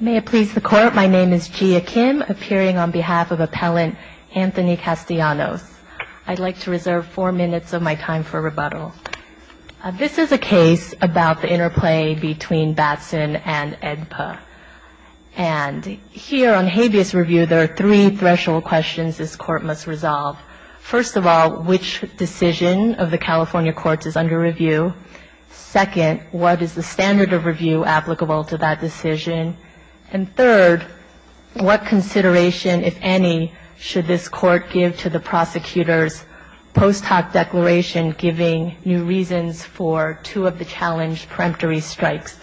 May it please the court, my name is Gia Kim, appearing on behalf of Appellant Anthony Castellanos. I'd like to reserve four minutes of my time for rebuttal. This is a case about the interplay between Batson and AEDPA. And here on habeas review, there are three threshold questions this court must resolve. First of all, which decision of the California courts is under review? Second, what is the standard of review applicable to that decision? And third, what consideration, if any, should this court give to the prosecutor's post hoc declaration giving new reasons for two of the challenged peremptory strikes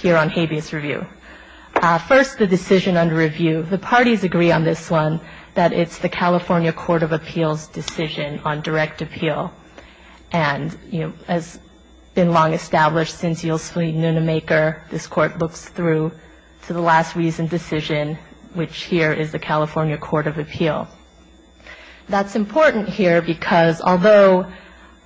here on habeas review? First, the decision under review. The parties agree on this one, that it's the California Court of Appeals' decision on direct appeal. And, you know, as has been long established since Yosemite Nunemaker, this court looks through to the last reasoned decision, which here is the California Court of Appeal. That's important here because although,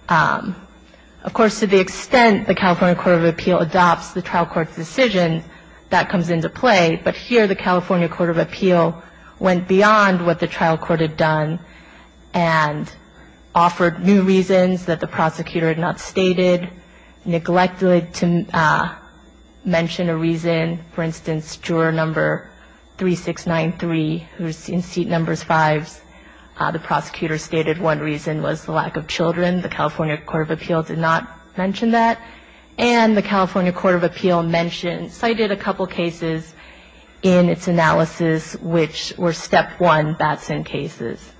of course, to the extent the California Court of Appeal adopts the trial court's decision, that comes into play, but here the California Court of Appeal went beyond what the trial court had done and offered new reasons that the prosecutor had not stated, neglected to mention a reason. For instance, juror number 3693, who is in seat numbers fives, the prosecutor stated one reason was the lack of children. The California Court of Appeal did not mention that. And the California Court of Appeal cited a couple cases in its analysis which were step one Batson cases.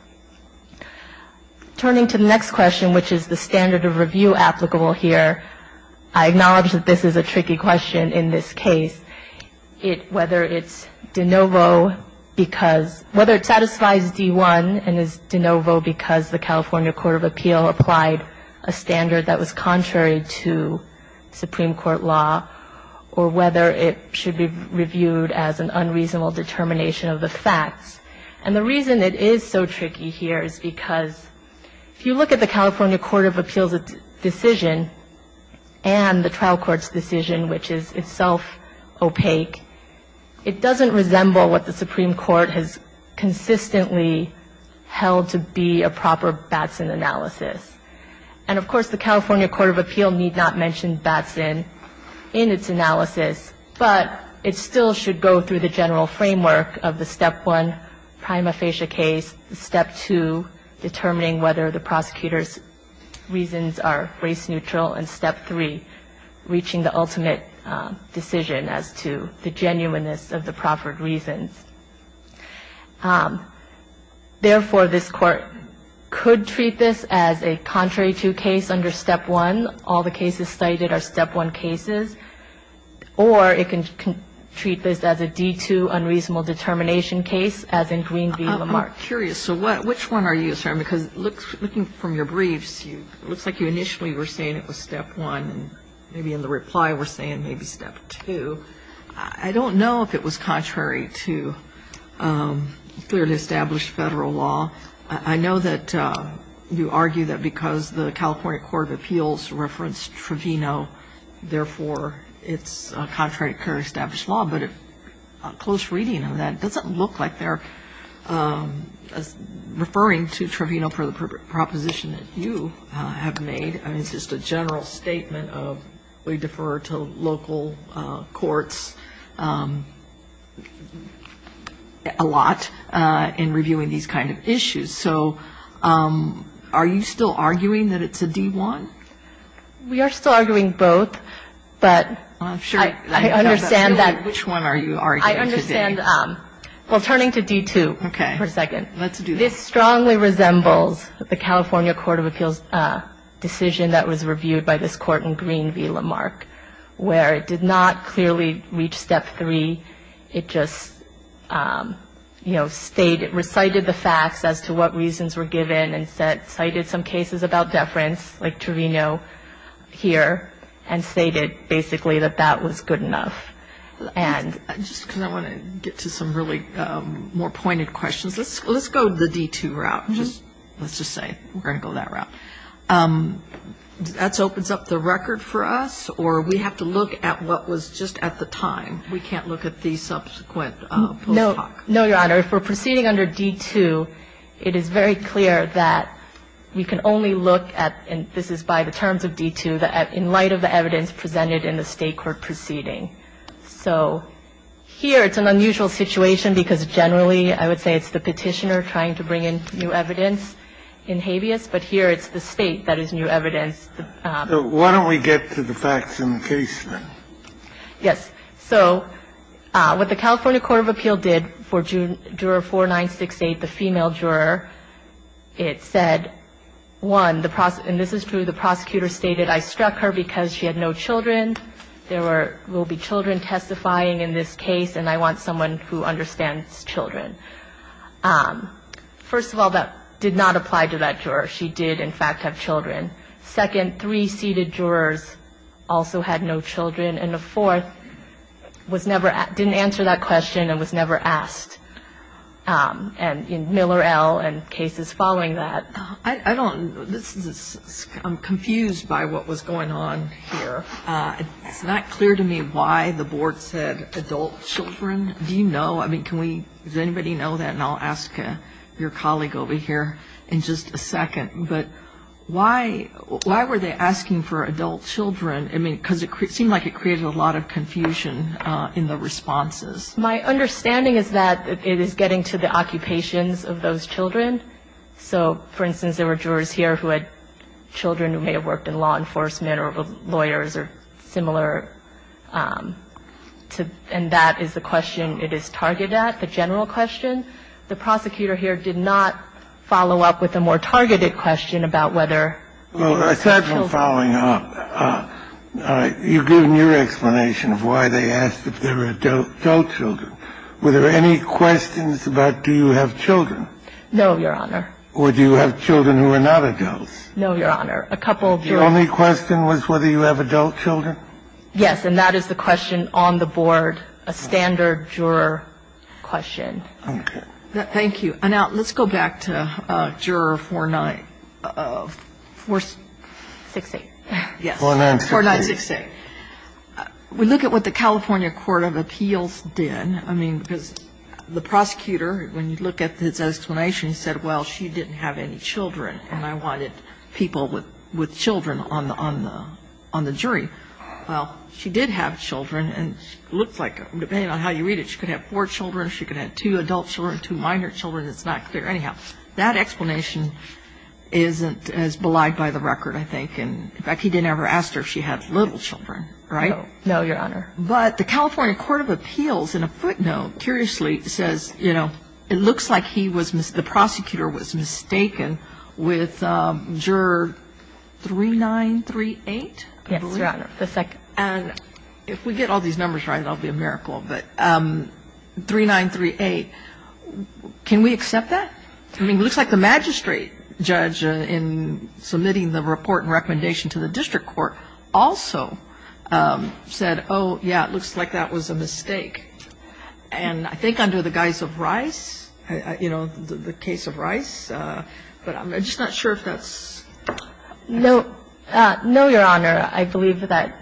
Turning to the next question, which is the standard of review applicable here, I acknowledge that this is a tricky question in this case. Whether it's de novo because whether it satisfies D1 and is de novo because the California Court of Appeal applied a standard that was contrary to Supreme Court law, or whether it should be reviewed as an unreasonable determination of the facts. And the reason it is so tricky here is because if you look at the California Court of Appeal's decision and the trial court's decision, which is itself opaque, it doesn't resemble what the Supreme Court has consistently held to be a proper Batson analysis. And, of course, the California Court of Appeal need not mention Batson in its analysis, but it still should go through the general framework of the step one prima facie case, step two determining whether the prosecutor's reasons are race neutral, and step three reaching the ultimate decision as to the genuineness of the proffered reasons. Therefore, this Court could treat this as a contrary to case under step one. All the cases cited are step one cases. Or it can treat this as a D2 unreasonable determination case, as in Green v. Lamarck. Kagan. I'm curious. So which one are you? Because looking from your briefs, it looks like you initially were saying it was step one, and maybe in the reply were saying maybe step two. I don't know if it was contrary to clearly established Federal law. I know that you argue that because the California Court of Appeals referenced Trevino, therefore it's a contrary to clearly established law, but a close reading of that doesn't look like they're referring to Trevino for the proposition that you have made. I mean, it's just a general statement of we defer to local courts a lot in reviewing these kind of issues. So are you still arguing that it's a D1? We are still arguing both, but I understand that. Which one are you arguing today? I understand. Well, turning to D2 for a second. Let's do that. This strongly resembles the California Court of Appeals decision that was reviewed by this court in Green v. Lamarck, where it did not clearly reach step three. It just, you know, recited the facts as to what reasons were given and cited some cases about deference like Trevino here and stated basically that that was good enough. Just because I want to get to some really more pointed questions. Let's go the D2 route. Let's just say we're going to go that route. That opens up the record for us, or we have to look at what was just at the time? We can't look at the subsequent post hoc? No, Your Honor. If we're proceeding under D2, it is very clear that we can only look at, and this is by the terms of D2, in light of the evidence presented in the State court proceeding. So here it's an unusual situation because generally I would say it's the Petitioner trying to bring in new evidence in habeas, but here it's the State that is new evidence. So why don't we get to the facts in the case then? Yes. So what the California Court of Appeals did for juror 4968, the female juror, it said, one, and this is true, the prosecutor stated, I struck her because she had no children. There will be children testifying in this case, and I want someone who understands children. First of all, that did not apply to that juror. She did, in fact, have children. Second, three seated jurors also had no children. And the fourth was never, didn't answer that question and was never asked. And in Miller L. and cases following that. I don't, this is, I'm confused by what was going on here. It's not clear to me why the board said adult children. Do you know? I mean, can we, does anybody know that? And I'll ask your colleague over here in just a second. But why, why were they asking for adult children? I mean, because it seemed like it created a lot of confusion in the responses. My understanding is that it is getting to the occupations of those children. So, for instance, there were jurors here who had children who may have worked in law enforcement or lawyers or similar. And that is the question it is targeted at, the general question. The prosecutor here did not follow up with a more targeted question about whether children. Well, aside from following up, you've given your explanation of why they asked if there were adult children. Were there any questions about do you have children? No, Your Honor. Or do you have children who are not adults? No, Your Honor. A couple of jurors. Your only question was whether you have adult children? Yes. And that is the question on the board, a standard juror question. Okay. Thank you. Now, let's go back to Juror 49, 468. Yes. 4968. 4968. We look at what the California Court of Appeals did. I mean, because the prosecutor, when you look at his explanation, said, well, she didn't have any children, and I wanted people with children on the jury. Well, she did have children, and it looks like, depending on how you read it, she could have four children, she could have two adult children, two minor children. It's not clear. Anyhow, that explanation isn't as belied by the record, I think. In fact, he didn't ever ask her if she had little children, right? No. No, Your Honor. But the California Court of Appeals, in a footnote, curiously says, you know, it looks like he was the prosecutor was mistaken with Juror 3938, I believe. Yes, Your Honor. And if we get all these numbers right, it will be a miracle. But 3938, can we accept that? I mean, it looks like the magistrate judge in submitting the report and recommendation to the district court also said, oh, yeah, it looks like that was a mistake. And I think under the guise of Rice, you know, the case of Rice, but I'm just not sure if that's the case. No. No, Your Honor. I believe that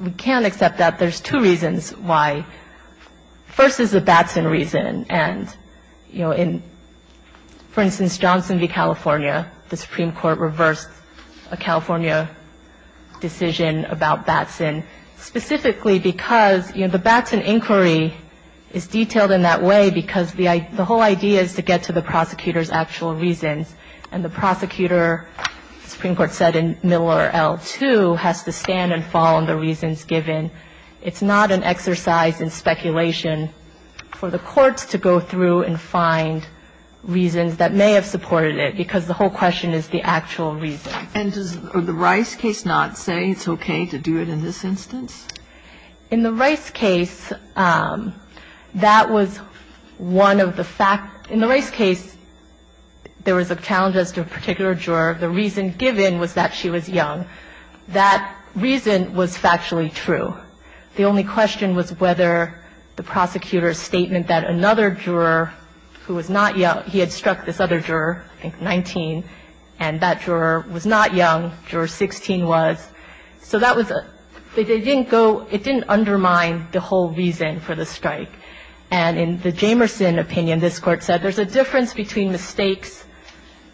we can accept that. There's two reasons why. First is the Batson reason, and, you know, in, for instance, Johnson v. California, the Supreme Court reversed a California decision about Batson, specifically because, you know, the Batson inquiry is detailed in that way because the whole idea is to get to the prosecutor's actual reasons. And the prosecutor, the Supreme Court said in Miller L-2, has to stand and fall on the reasons given. It's not an exercise in speculation for the courts to go through and find reasons that may have supported it, because the whole question is the actual reason. And does the Rice case not say it's okay to do it in this instance? In the Rice case, that was one of the facts. In the Rice case, there was a challenge as to a particular juror. The reason given was that she was young. That reason was factually true. The only question was whether the prosecutor's statement that another juror who was not young, he had struck this other juror, I think 19, and that juror was not young. Juror 16 was. So that was a they didn't go, it didn't undermine the whole reason for the strike. And in the Jamerson opinion, this Court said there's a difference between mistakes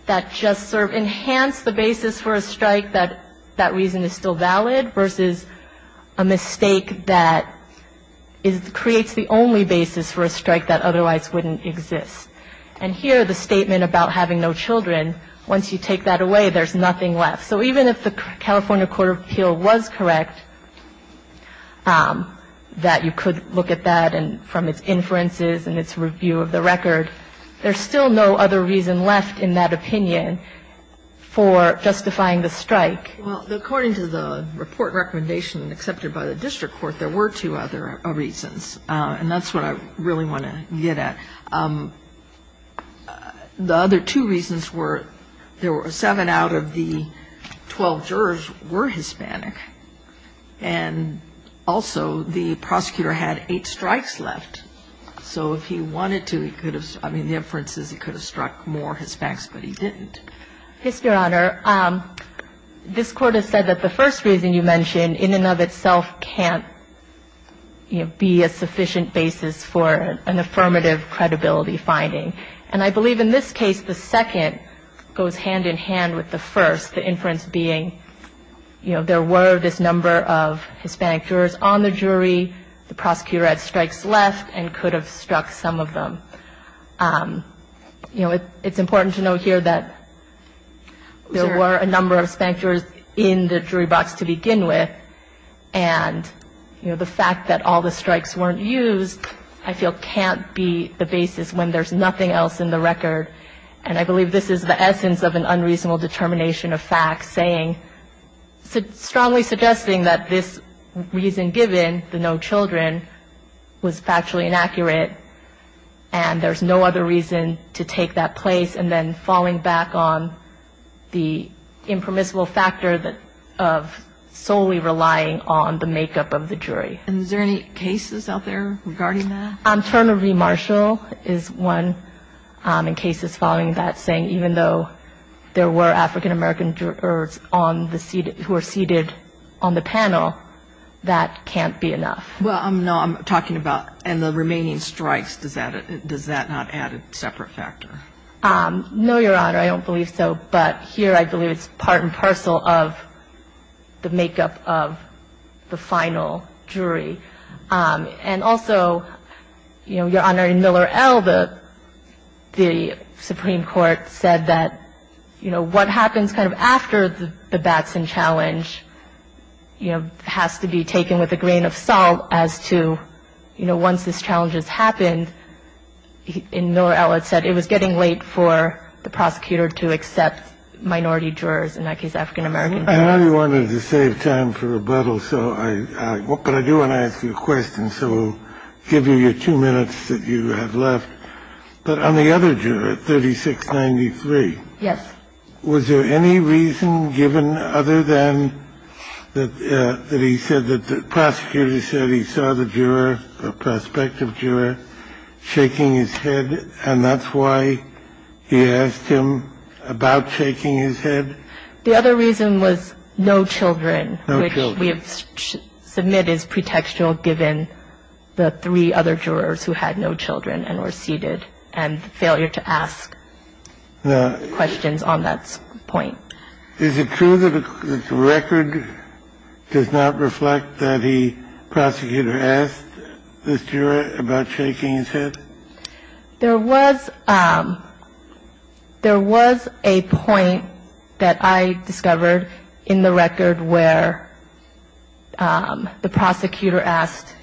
that just sort of enhance the basis for a strike that that reason is still valid versus a mistake that is, creates the only basis for a strike that otherwise wouldn't exist. And here, the statement about having no children, once you take that away, there's nothing left. So even if the California Court of Appeal was correct, that you could look at that from its inferences and its review of the record, there's still no other reason left in that opinion for justifying the strike. Well, according to the report recommendation accepted by the district court, there were two other reasons. And that's what I really want to get at. The other two reasons were there were seven out of the 12 jurors were Hispanic. And also, the prosecutor had eight strikes left. So if he wanted to, he could have, I mean, the inference is he could have struck more Hispanics, but he didn't. Yes, Your Honor. This Court has said that the first reason you mentioned in and of itself can't be a sufficient basis for an affirmative credibility finding. And I believe in this case, the second goes hand in hand with the first, the inference being, you know, there were this number of Hispanic jurors on the jury. The prosecutor had strikes left and could have struck some of them. You know, it's important to note here that there were a number of Hispanic jurors in the jury box to begin with. And, you know, the fact that all the strikes weren't used, I feel, can't be the basis when there's nothing else in the record. And I believe this is the essence of an unreasonable determination of facts saying strongly suggesting that this reason given, the no children, was factually inaccurate and there's no other reason to take that place and then falling back on the makeup of the jury. And is there any cases out there regarding that? Term of remarshal is one in cases following that saying even though there were African American jurors on the seat who are seated on the panel, that can't be enough. Well, no, I'm talking about, and the remaining strikes, does that not add a separate factor? No, Your Honor. I don't believe so. But here I believe it's part and parcel of the makeup of the final jury. And also, Your Honor, in Miller L., the Supreme Court said that, you know, what happens kind of after the Batson challenge, you know, has to be taken with a grain of salt as to, you know, once this challenge has happened, in Miller L. it was getting late for the prosecutor to accept minority jurors, in that case African American jurors. I know you wanted to save time for rebuttal, but I do want to ask you a question, so I'll give you your two minutes that you have left. But on the other juror, 3693. Yes. Was there any reason given other than that he said that the prosecutor said he saw the juror, the prospective juror, shaking his head, and that's why he asked him about shaking his head? The other reason was no children. No children. Which we have submitted as pretextual given the three other jurors who had no children and were seated, and the failure to ask questions on that point. Is it true that the record does not reflect that he, prosecutor, asked this juror about shaking his head? There was a point that I discovered in the record where the prosecutor asked,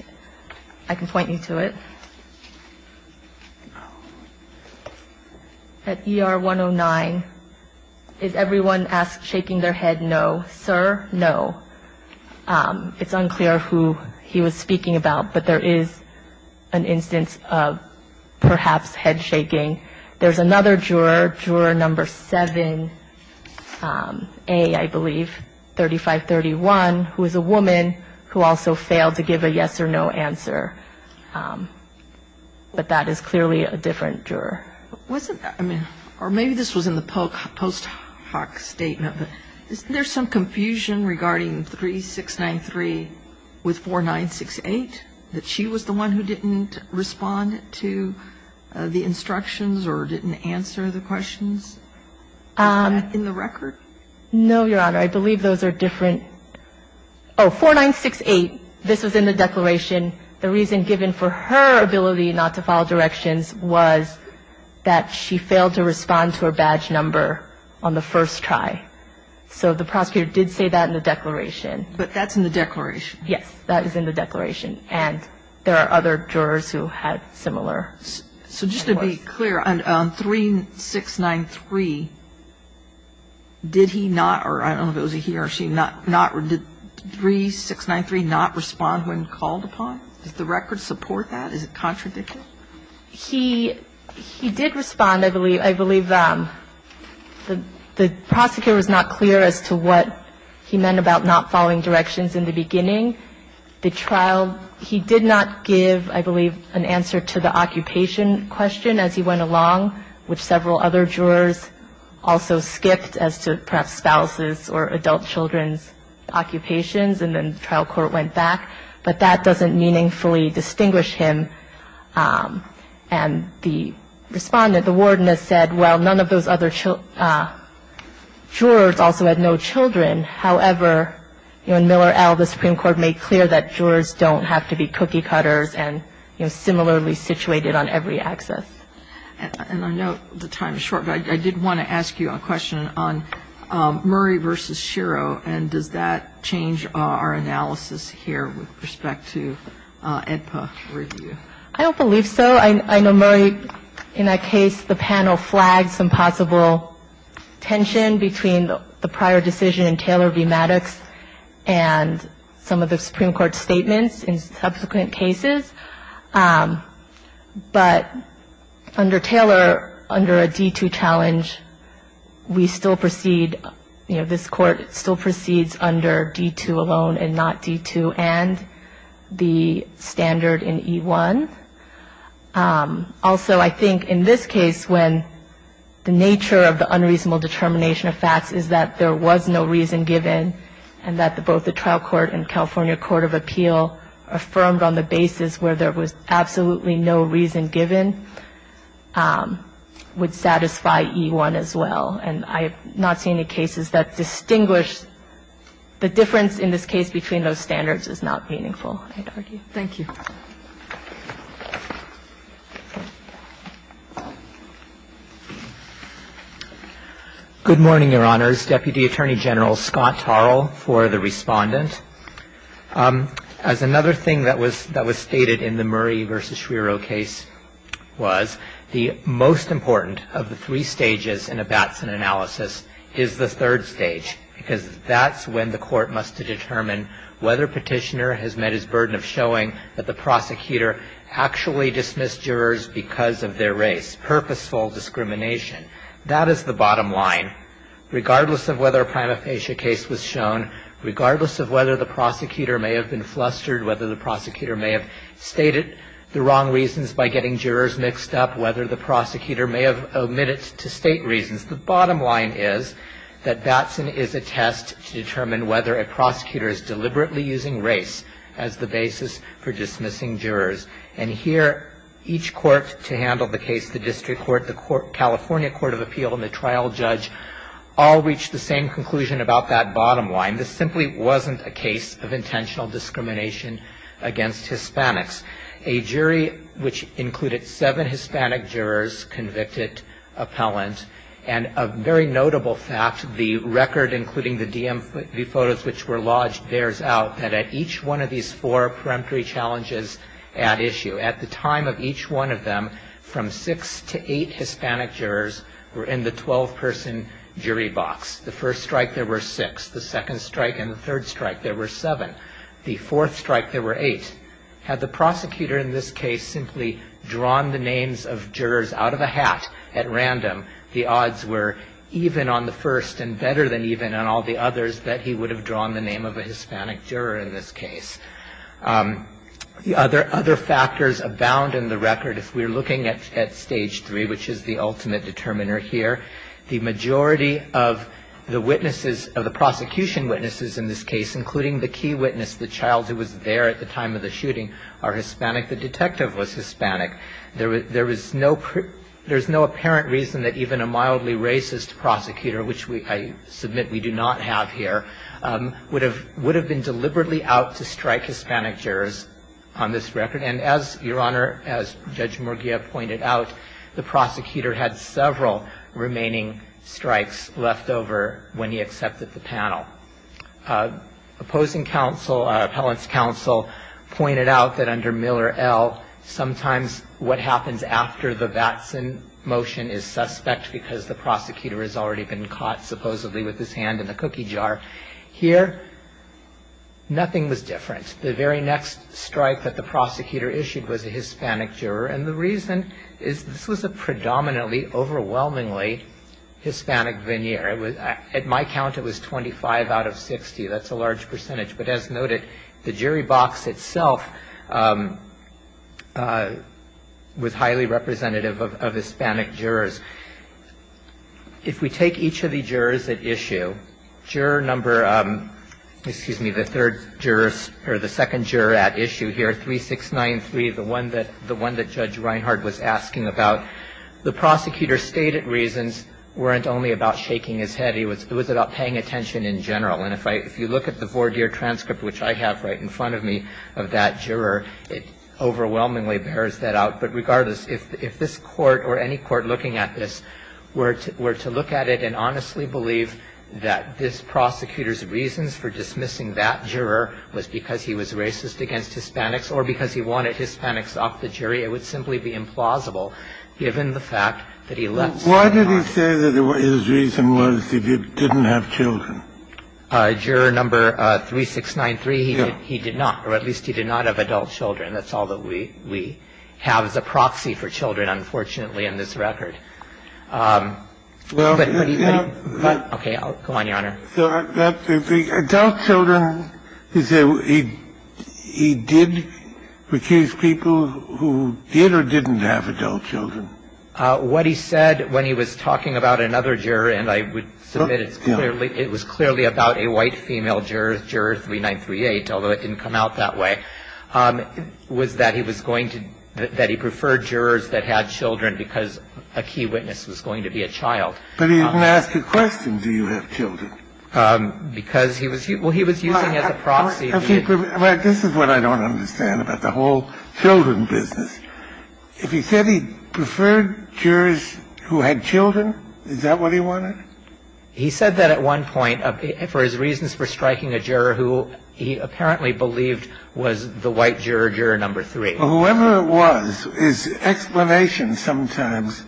I can point you to it. At ER 109, is everyone asked shaking their head no? Sir, no. It's unclear who he was speaking about, but there is an instance of perhaps head There's another juror, juror number 7A, I believe, 3531, who is a woman who also failed to give a yes or no answer. But that is clearly a different juror. Maybe this was in the post hoc statement, but isn't there some confusion regarding 3693 with 4968, that she was the one who didn't respond to the instructions or didn't answer the questions in the record? No, Your Honor. I believe those are different. Oh, 4968, this was in the declaration. The reason given for her ability not to file directions was that she failed to respond to her badge number on the first try. So the prosecutor did say that in the declaration. But that's in the declaration. Yes, that is in the declaration. And there are other jurors who had similar. So just to be clear, on 3693, did he not, or I don't know if it was he or she, did 3693 not respond when called upon? Does the record support that? Is it contradictory? He did respond, I believe. I believe the prosecutor was not clear as to what he meant about not following directions in the beginning. The trial, he did not give, I believe, an answer to the occupation question as he went along, which several other jurors also skipped as to perhaps spouses or adult children's occupations. And then the trial court went back. But that doesn't meaningfully distinguish him. And the Respondent, the Warden, has said, well, none of those other jurors also had no children. However, in Miller L., the Supreme Court made clear that jurors don't have to be cookie-cutters and, you know, similarly situated on every axis. And I know the time is short, but I did want to ask you a question on Murray v. Shiro, and does that change our analysis here with respect to AEDPA review? I don't believe so. I know Murray, in that case, the panel flagged some possible tension between the prior decision in Taylor v. Maddox and some of the Supreme Court's statements in subsequent cases. But under Taylor, under a D-2 challenge, we still proceed, you know, this Court still proceeds under D-2 alone and not D-2 and the standard in E-1. Also, I think in this case, when the nature of the unreasonable determination of facts is that there was no reason given and that both the trial court and California court of appeal affirmed on the basis where there was absolutely no reason given would satisfy E-1 as well. And I have not seen any cases that distinguish. The difference in this case between those standards is not meaningful, I'd argue. Thank you. Good morning, Your Honors. Deputy Attorney General Scott Tarl for the Respondent. As another thing that was stated in the Murray v. Shiro case was, the most important of the three stages in a Batson analysis is the third stage, because that's when the Court must determine whether Petitioner has met his burden of showing that the Supreme Court found that the prosecutor actually dismissed jurors because of their race, purposeful discrimination. That is the bottom line. Regardless of whether a prima facie case was shown, regardless of whether the prosecutor may have been flustered, whether the prosecutor may have stated the wrong reasons by getting jurors mixed up, whether the prosecutor may have omitted to state reasons, the bottom line is that Batson is a test to determine whether a prosecutor is deliberately using race as the basis for dismissing jurors. And here, each court, to handle the case, the district court, the California Court of Appeal, and the trial judge, all reached the same conclusion about that bottom line. This simply wasn't a case of intentional discrimination against Hispanics. A jury which included seven Hispanic jurors, convicted, appellant, and a very notable fact, the record, including the DMV photos which were lodged, bears out that at each one of these four peremptory challenges at issue, at the time of each one of them, from six to eight Hispanic jurors were in the 12-person jury box. The first strike, there were six. The second strike and the third strike, there were seven. The fourth strike, there were eight. Had the prosecutor in this case simply drawn the names of jurors out of a hat at random, the odds were even on the first and better than even on all the others that he would have drawn the name of a Hispanic juror in this case. The other factors abound in the record. If we're looking at Stage 3, which is the ultimate determiner here, the majority of the witnesses, of the prosecution witnesses in this case, including the key witness, the child who was there at the time of the shooting, are Hispanic. The detective was Hispanic. There is no apparent reason that even a mildly racist prosecutor, which I submit we do not have here, would have been deliberately out to strike Hispanic jurors on this record. And as Your Honor, as Judge Murguia pointed out, the prosecutor had several remaining strikes left over when he accepted the panel. Opposing counsel, appellant's counsel, pointed out that under Miller L., sometimes what happens after the Batson motion is suspect because the prosecutor has already been caught supposedly with his hand in the cookie jar. Here, nothing was different. The very next strike that the prosecutor issued was a Hispanic juror. And the reason is this was a predominantly, overwhelmingly Hispanic veneer. At my count, it was 25 out of 60. That's a large percentage. But as noted, the jury box itself was highly representative of Hispanic jurors. If we take each of the jurors at issue, juror number, excuse me, the third jurors or the second juror at issue here, 3693, the one that Judge Reinhart was asking about, the prosecutor's stated reasons weren't only about shaking his head. It was about paying attention in general. And if I – if you look at the voir dire transcript, which I have right in front of me, of that juror, it overwhelmingly bears that out. But regardless, if this Court or any Court looking at this were to look at it and honestly believe that this prosecutor's reasons for dismissing that juror was because he was racist against Hispanics or because he wanted Hispanics off the jury, it would simply be implausible given the fact that he left. So why did he say that his reason was that he didn't have children? Juror number 3693, he did not. Or at least he did not have adult children. That's all that we have as a proxy for children, unfortunately, in this record. Okay. Go on, Your Honor. Adult children, he said he did because people who did or didn't have adult children. What he said when he was talking about another juror, and I would submit it's clearly – it was clearly about a white female juror, juror 3938, although it didn't come out that way, was that he was going to – that he preferred jurors that had children because a key witness was going to be a child. But he didn't ask a question, do you have children? Because he was – well, he was using as a proxy. This is what I don't understand about the whole children business. If he said he preferred jurors who had children, is that what he wanted? He said that at one point for his reasons for striking a juror who he apparently believed was the white juror, juror number three. Well, whoever it was, his explanation sometimes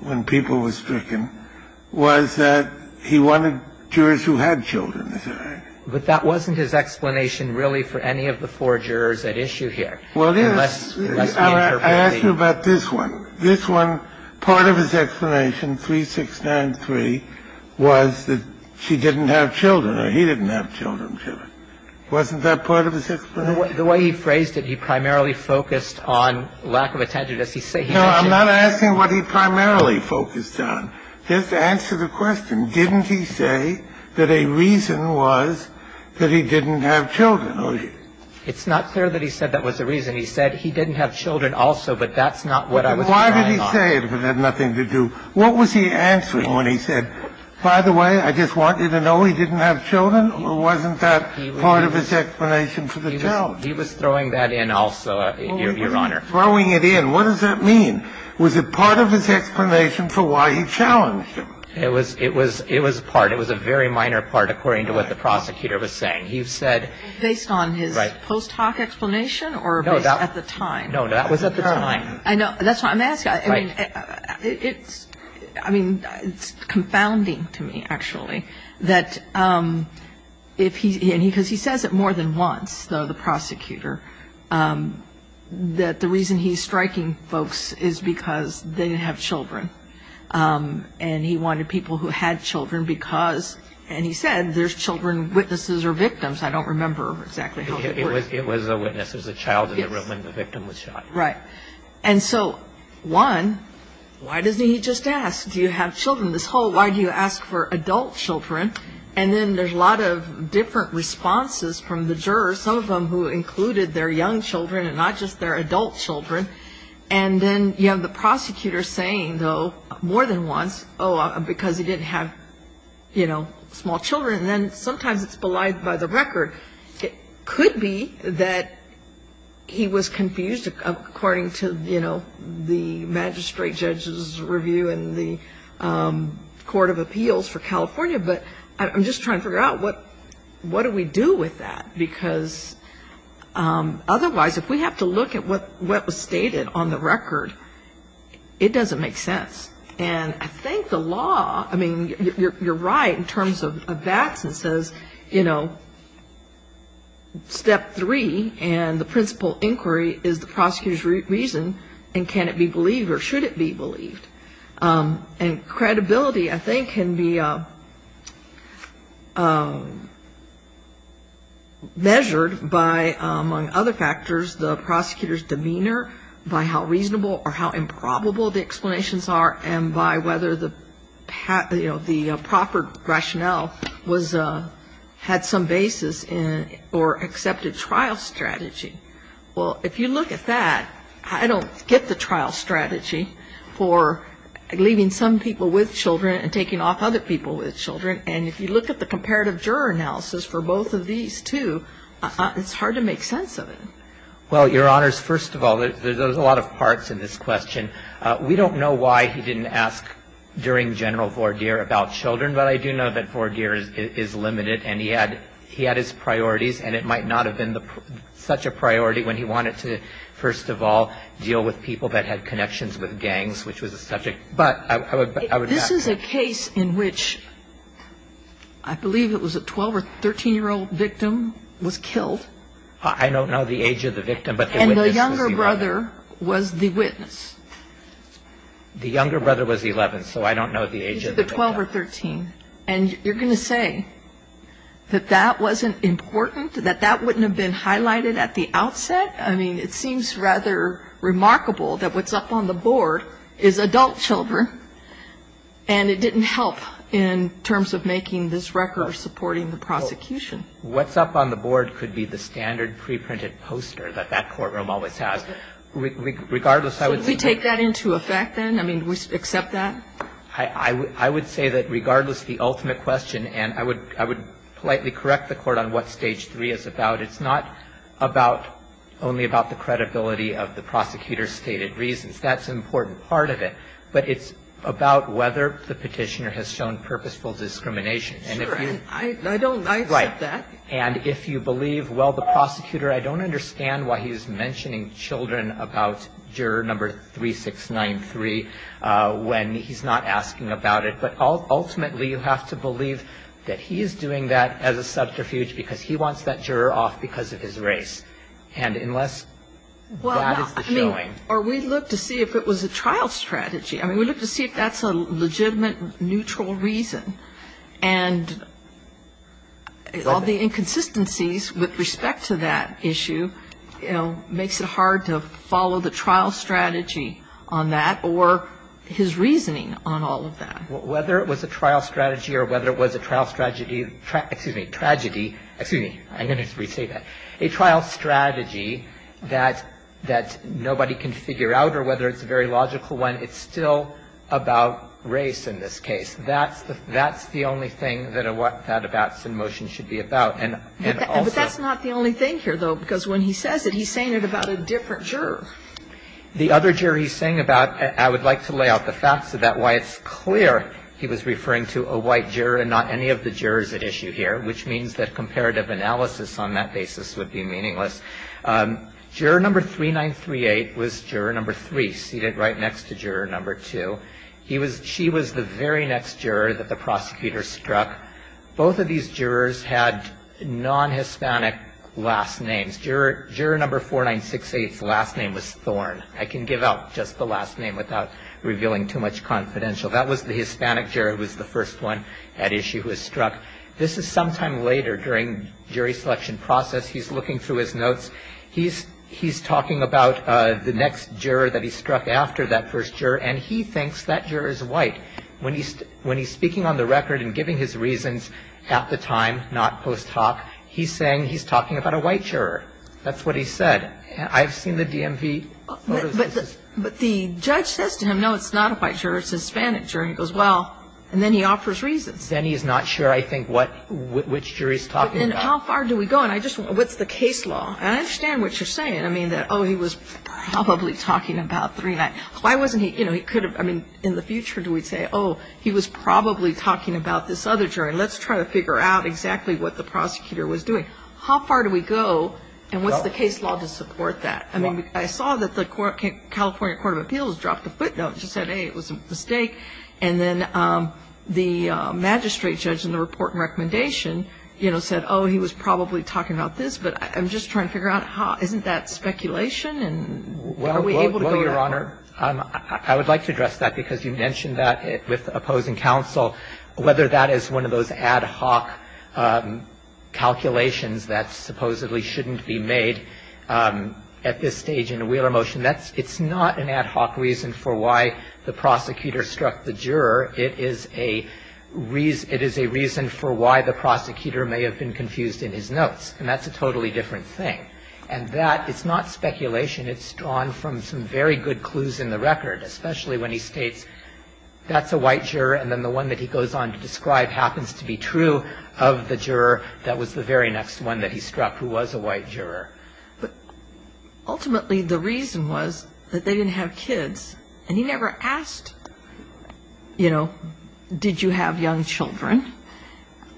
when people were stricken was that he wanted jurors who had children, is that right? But that wasn't his explanation really for any of the four jurors at issue here. Well, I asked you about this one. This one, part of his explanation, 3693, was that she didn't have children or he didn't have children. Wasn't that part of his explanation? The way he phrased it, he primarily focused on lack of attention. No, I'm not asking what he primarily focused on. Just answer the question. Didn't he say that a reason was that he didn't have children? It's not clear that he said that was the reason. He said he didn't have children also, but that's not what I was relying on. Then why did he say it if it had nothing to do? What was he answering when he said, by the way, I just want you to know he didn't have children, or wasn't that part of his explanation for the challenge? He was throwing that in also, Your Honor. Throwing it in. What does that mean? Was it part of his explanation for why he challenged him? It was part. It was a very minor part according to what the prosecutor was saying. Based on his post hoc explanation or based at the time? No, that was at the time. I know. That's why I'm asking. It's confounding to me, actually, that if he, because he says it more than once, though, the prosecutor, that the reason he's striking folks is because they didn't have children and he wanted people who had children because, and he said, there's children witnesses or victims. I don't remember exactly how that works. It was a witness. It was a child in the room when the victim was shot. Right. And so, one, why doesn't he just ask, do you have children? This whole, why do you ask for adult children? And then there's a lot of different responses from the jurors, some of them who included their young children and not just their adult And then you have the prosecutor saying, though, more than once, oh, because he didn't have, you know, small children. And then sometimes it's belied by the record. It could be that he was confused according to, you know, the magistrate judge's review in the Court of Appeals for California. But I'm just trying to figure out what do we do with that? Because otherwise, if we have to look at what was stated on the record, it doesn't make sense. And I think the law, I mean, you're right in terms of VATS. It says, you know, step three and the principal inquiry is the prosecutor's reason and can it be believed or should it be believed. And credibility, I think, can be measured by, among other factors, the prosecutor's demeanor, by how reasonable or how improbable the explanations are, and by whether the proper rationale had some basis or accepted trial strategy. Well, if you look at that, I don't get the trial strategy for leaving some people with children and taking off other people with children. And if you look at the comparative juror analysis for both of these two, it's hard to make sense of it. Well, Your Honors, first of all, there's a lot of parts in this question. We don't know why he didn't ask during General Vordier about children, but I do know that Vordier is limited and he had his priorities and it might not have been such a priority when he wanted to, first of all, deal with people that had connections with gangs, which was a subject. But I would ask. This is a case in which I believe it was a 12 or 13-year-old victim was killed. I don't know the age of the victim, but the witness was 11. And the younger brother was the witness. The younger brother was 11, so I don't know the age of the victim. He was 12 or 13. And you're going to say that that wasn't important, that that wouldn't have been highlighted at the outset? I mean, it seems rather remarkable that what's up on the board is adult children and it didn't help in terms of making this record or supporting the prosecution. What's up on the board could be the standard preprinted poster that that courtroom always has. Regardless, I would say. Should we take that into effect then? I mean, do we accept that? I would say that regardless, the ultimate question, and I would politely correct the Court on what Stage 3 is about, it's not about only about the credibility of the prosecutor's stated reasons. That's an important part of it. But it's about whether the Petitioner has shown purposeful discrimination. And if you. I don't accept that. Right. And if you believe, well, the prosecutor, I don't understand why he's mentioning children about juror number 3693 when he's not asking about it. But ultimately, you have to believe that he is doing that as a subterfuge because he wants that juror off because of his race. And unless that is the showing. Well, I mean, or we look to see if it was a trial strategy. I mean, we look to see if that's a legitimate, neutral reason. And all the inconsistencies with respect to that issue, you know, makes it hard to follow the trial strategy on that or his reasoning on all of that. Whether it was a trial strategy or whether it was a trial strategy, excuse me, tragedy. Excuse me. I'm going to re-say that. A trial strategy that nobody can figure out or whether it's a very logical one, it's still about race in this case. That's the only thing that a Watson motion should be about. And also. And that's not the only thing here, though, because when he says it, he's saying it about a different juror. The other juror he's saying about, I would like to lay out the facts about why it's clear he was referring to a white juror and not any of the jurors at issue here, which means that comparative analysis on that basis would be meaningless. Juror number 3938 was juror number 3, seated right next to juror number 2. He was, she was the very next juror that the prosecutor struck. Both of these jurors had non-Hispanic last names. Juror number 4968's last name was Thorn. I can give out just the last name without revealing too much confidential. That was the Hispanic juror who was the first one at issue who was struck. This is sometime later during jury selection process. He's looking through his notes. He's talking about the next juror that he struck after that first juror, and he thinks that juror is white. When he's speaking on the record and giving his reasons at the time, not post hoc, he's saying he's talking about a white juror. That's what he said. I've seen the DMV photos. But the judge says to him, no, it's not a white juror, it's a Hispanic juror. And he goes, well, and then he offers reasons. Then he's not sure, I think, what, which jury he's talking about. And how far do we go? And I just, what's the case law? And I understand what you're saying. I mean, that, oh, he was probably talking about 39. Why wasn't he, you know, he could have, I mean, in the future, do we say, oh, he was probably talking about this other jury. Let's try to figure out exactly what the prosecutor was doing. How far do we go, and what's the case law to support that? I mean, I saw that the California Court of Appeals dropped a footnote. It just said, hey, it was a mistake. And then the magistrate judge in the report and recommendation, you know, said, oh, he was probably talking about this. But I'm just trying to figure out how, isn't that speculation? And are we able to go that far? I would like to address that, because you mentioned that with opposing counsel, whether that is one of those ad hoc calculations that supposedly shouldn't be made at this stage in a Wheeler motion. That's, it's not an ad hoc reason for why the prosecutor struck the juror. It is a reason, it is a reason for why the prosecutor may have been confused in his notes. And that's a totally different thing. And that, it's not speculation. It's drawn from some very good clues in the record, especially when he states that's a white juror, and then the one that he goes on to describe happens to be true of the juror that was the very next one that he struck who was a white juror. But ultimately, the reason was that they didn't have kids. And he never asked, you know, did you have young children?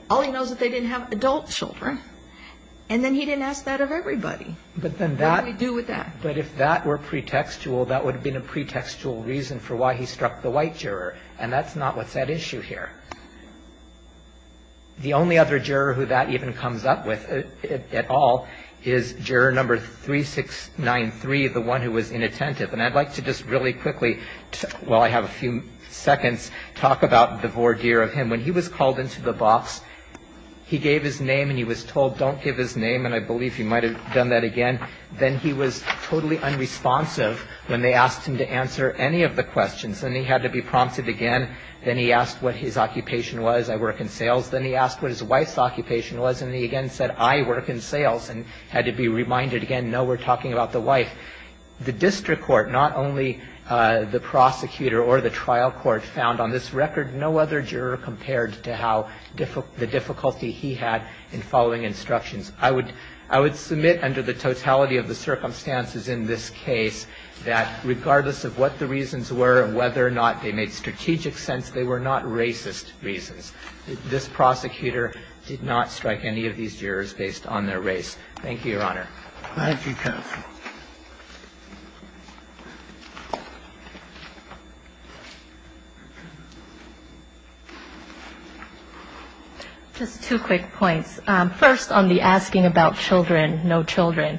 All he knows is that they didn't have adult children. And then he didn't ask that of everybody. What do we do with that? But if that were pretextual, that would have been a pretextual reason for why he struck the white juror. And that's not what's at issue here. The only other juror who that even comes up with at all is juror number 3693, the one who was inattentive. And I'd like to just really quickly, while I have a few seconds, talk about the voir dire of him. When he was called into the box, he gave his name and he was told don't give his name. And I believe he might have done that again. Then he was totally unresponsive when they asked him to answer any of the questions. Then he had to be prompted again. Then he asked what his occupation was. I work in sales. Then he asked what his wife's occupation was. And he again said, I work in sales, and had to be reminded again, no, we're talking about the wife. The district court, not only the prosecutor or the trial court, found on this record no other juror compared to how the difficulty he had in following instructions. I would submit under the totality of the circumstances in this case that regardless of what the reasons were and whether or not they made strategic sense, they were not racist reasons. This prosecutor did not strike any of these jurors based on their race. Thank you, counsel. Just two quick points. First, on the asking about children, no children,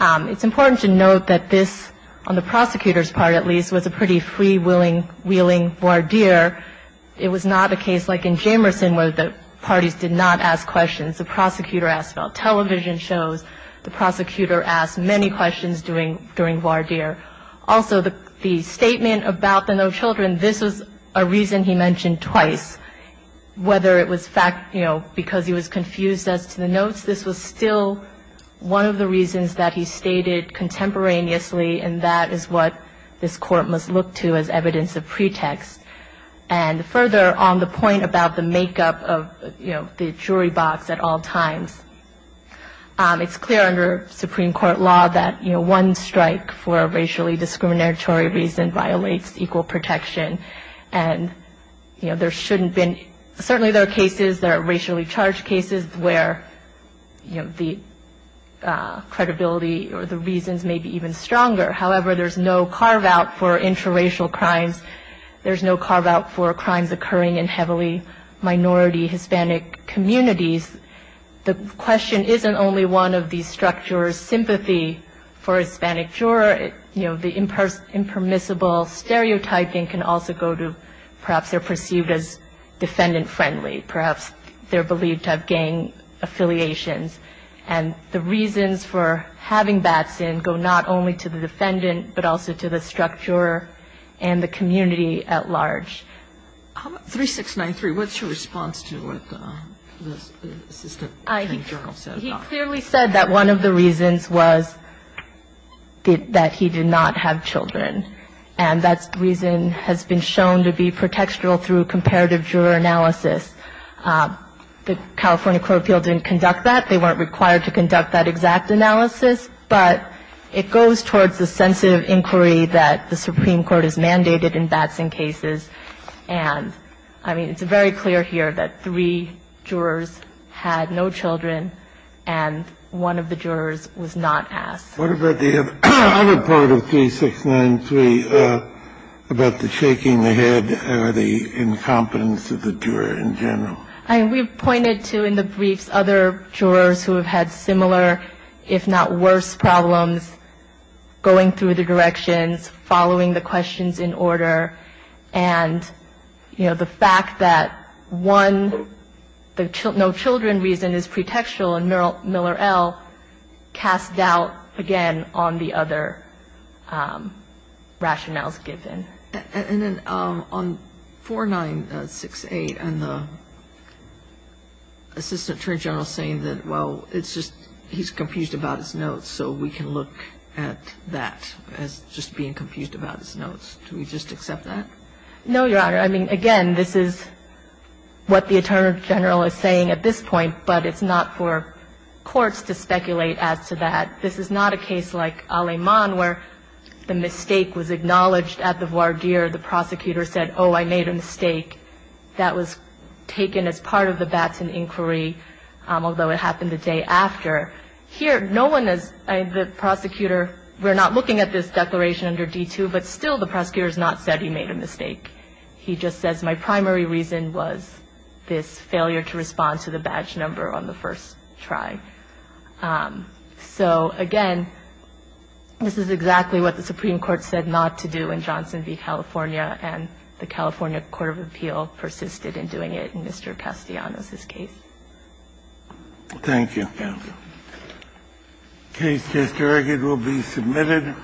it's important to note that this, on the prosecutor's part at least, was a pretty freewheeling voir dire. It was not a case like in Jamerson where the parties did not ask questions. The prosecutor asked about television shows. The prosecutor asked many questions during voir dire. Also, the statement about the no children, this was a reason he mentioned twice. Whether it was, you know, because he was confused as to the notes, this was still one of the reasons that he stated contemporaneously, and that is what this Court must look to as evidence of pretext. And further, on the point about the makeup of, you know, the jury box at all times, it's clear under Supreme Court law that, you know, one strike for a racially discriminatory reason violates equal protection. And, you know, there shouldn't have been, certainly there are cases, there are racially charged cases where, you know, the credibility or the reasons may be even stronger. However, there's no carve-out for intraracial crimes. There's no carve-out for crimes occurring in heavily minority Hispanic communities. The question isn't only one of these structures. Sympathy for a Hispanic juror, you know, the impermissible stereotyping can also go to perhaps they're perceived as defendant-friendly. Perhaps they're believed to have gang affiliations. And the reasons for having bats in go not only to the defendant, but also to the structure and the community at large. How about 3693? What's your response to what the Assistant Attorney General said about that? He clearly said that one of the reasons was that he did not have children. And that reason has been shown to be pretextual through comparative juror analysis. The California court of appeal didn't conduct that. They weren't required to conduct that exact analysis. And I mean, it's very clear here that three jurors had no children. And one of the jurors was not asked. What about the other part of 3693 about the shaking the head or the incompetence of the juror in general? I mean, we've pointed to in the briefs other jurors who have had similar, if not worse, problems going through the directions, following the questions in order. And, you know, the fact that one, the no children reason is pretextual, and Miller L. casts doubt, again, on the other rationales given. And then on 4968 and the Assistant Attorney General saying that, well, it's just he's confused about his notes. So we can look at that as just being confused about his notes. Do we just accept that? No, Your Honor. I mean, again, this is what the Attorney General is saying at this point. But it's not for courts to speculate as to that. This is not a case like Aleman where the mistake was acknowledged at the voir dire. The prosecutor said, oh, I made a mistake. That was taken as part of the Batson inquiry, although it happened the day after. Here, no one is, the prosecutor, we're not looking at this declaration under D2, but still the prosecutor has not said he made a mistake. He just says my primary reason was this failure to respond to the badge number on the first try. So, again, this is exactly what the Supreme Court said not to do in Johnson v. California, and the California Court of Appeal persisted in doing it in Mr. Castellanos' case. Thank you. Thank you, Counsel. The case is directed to be submitted.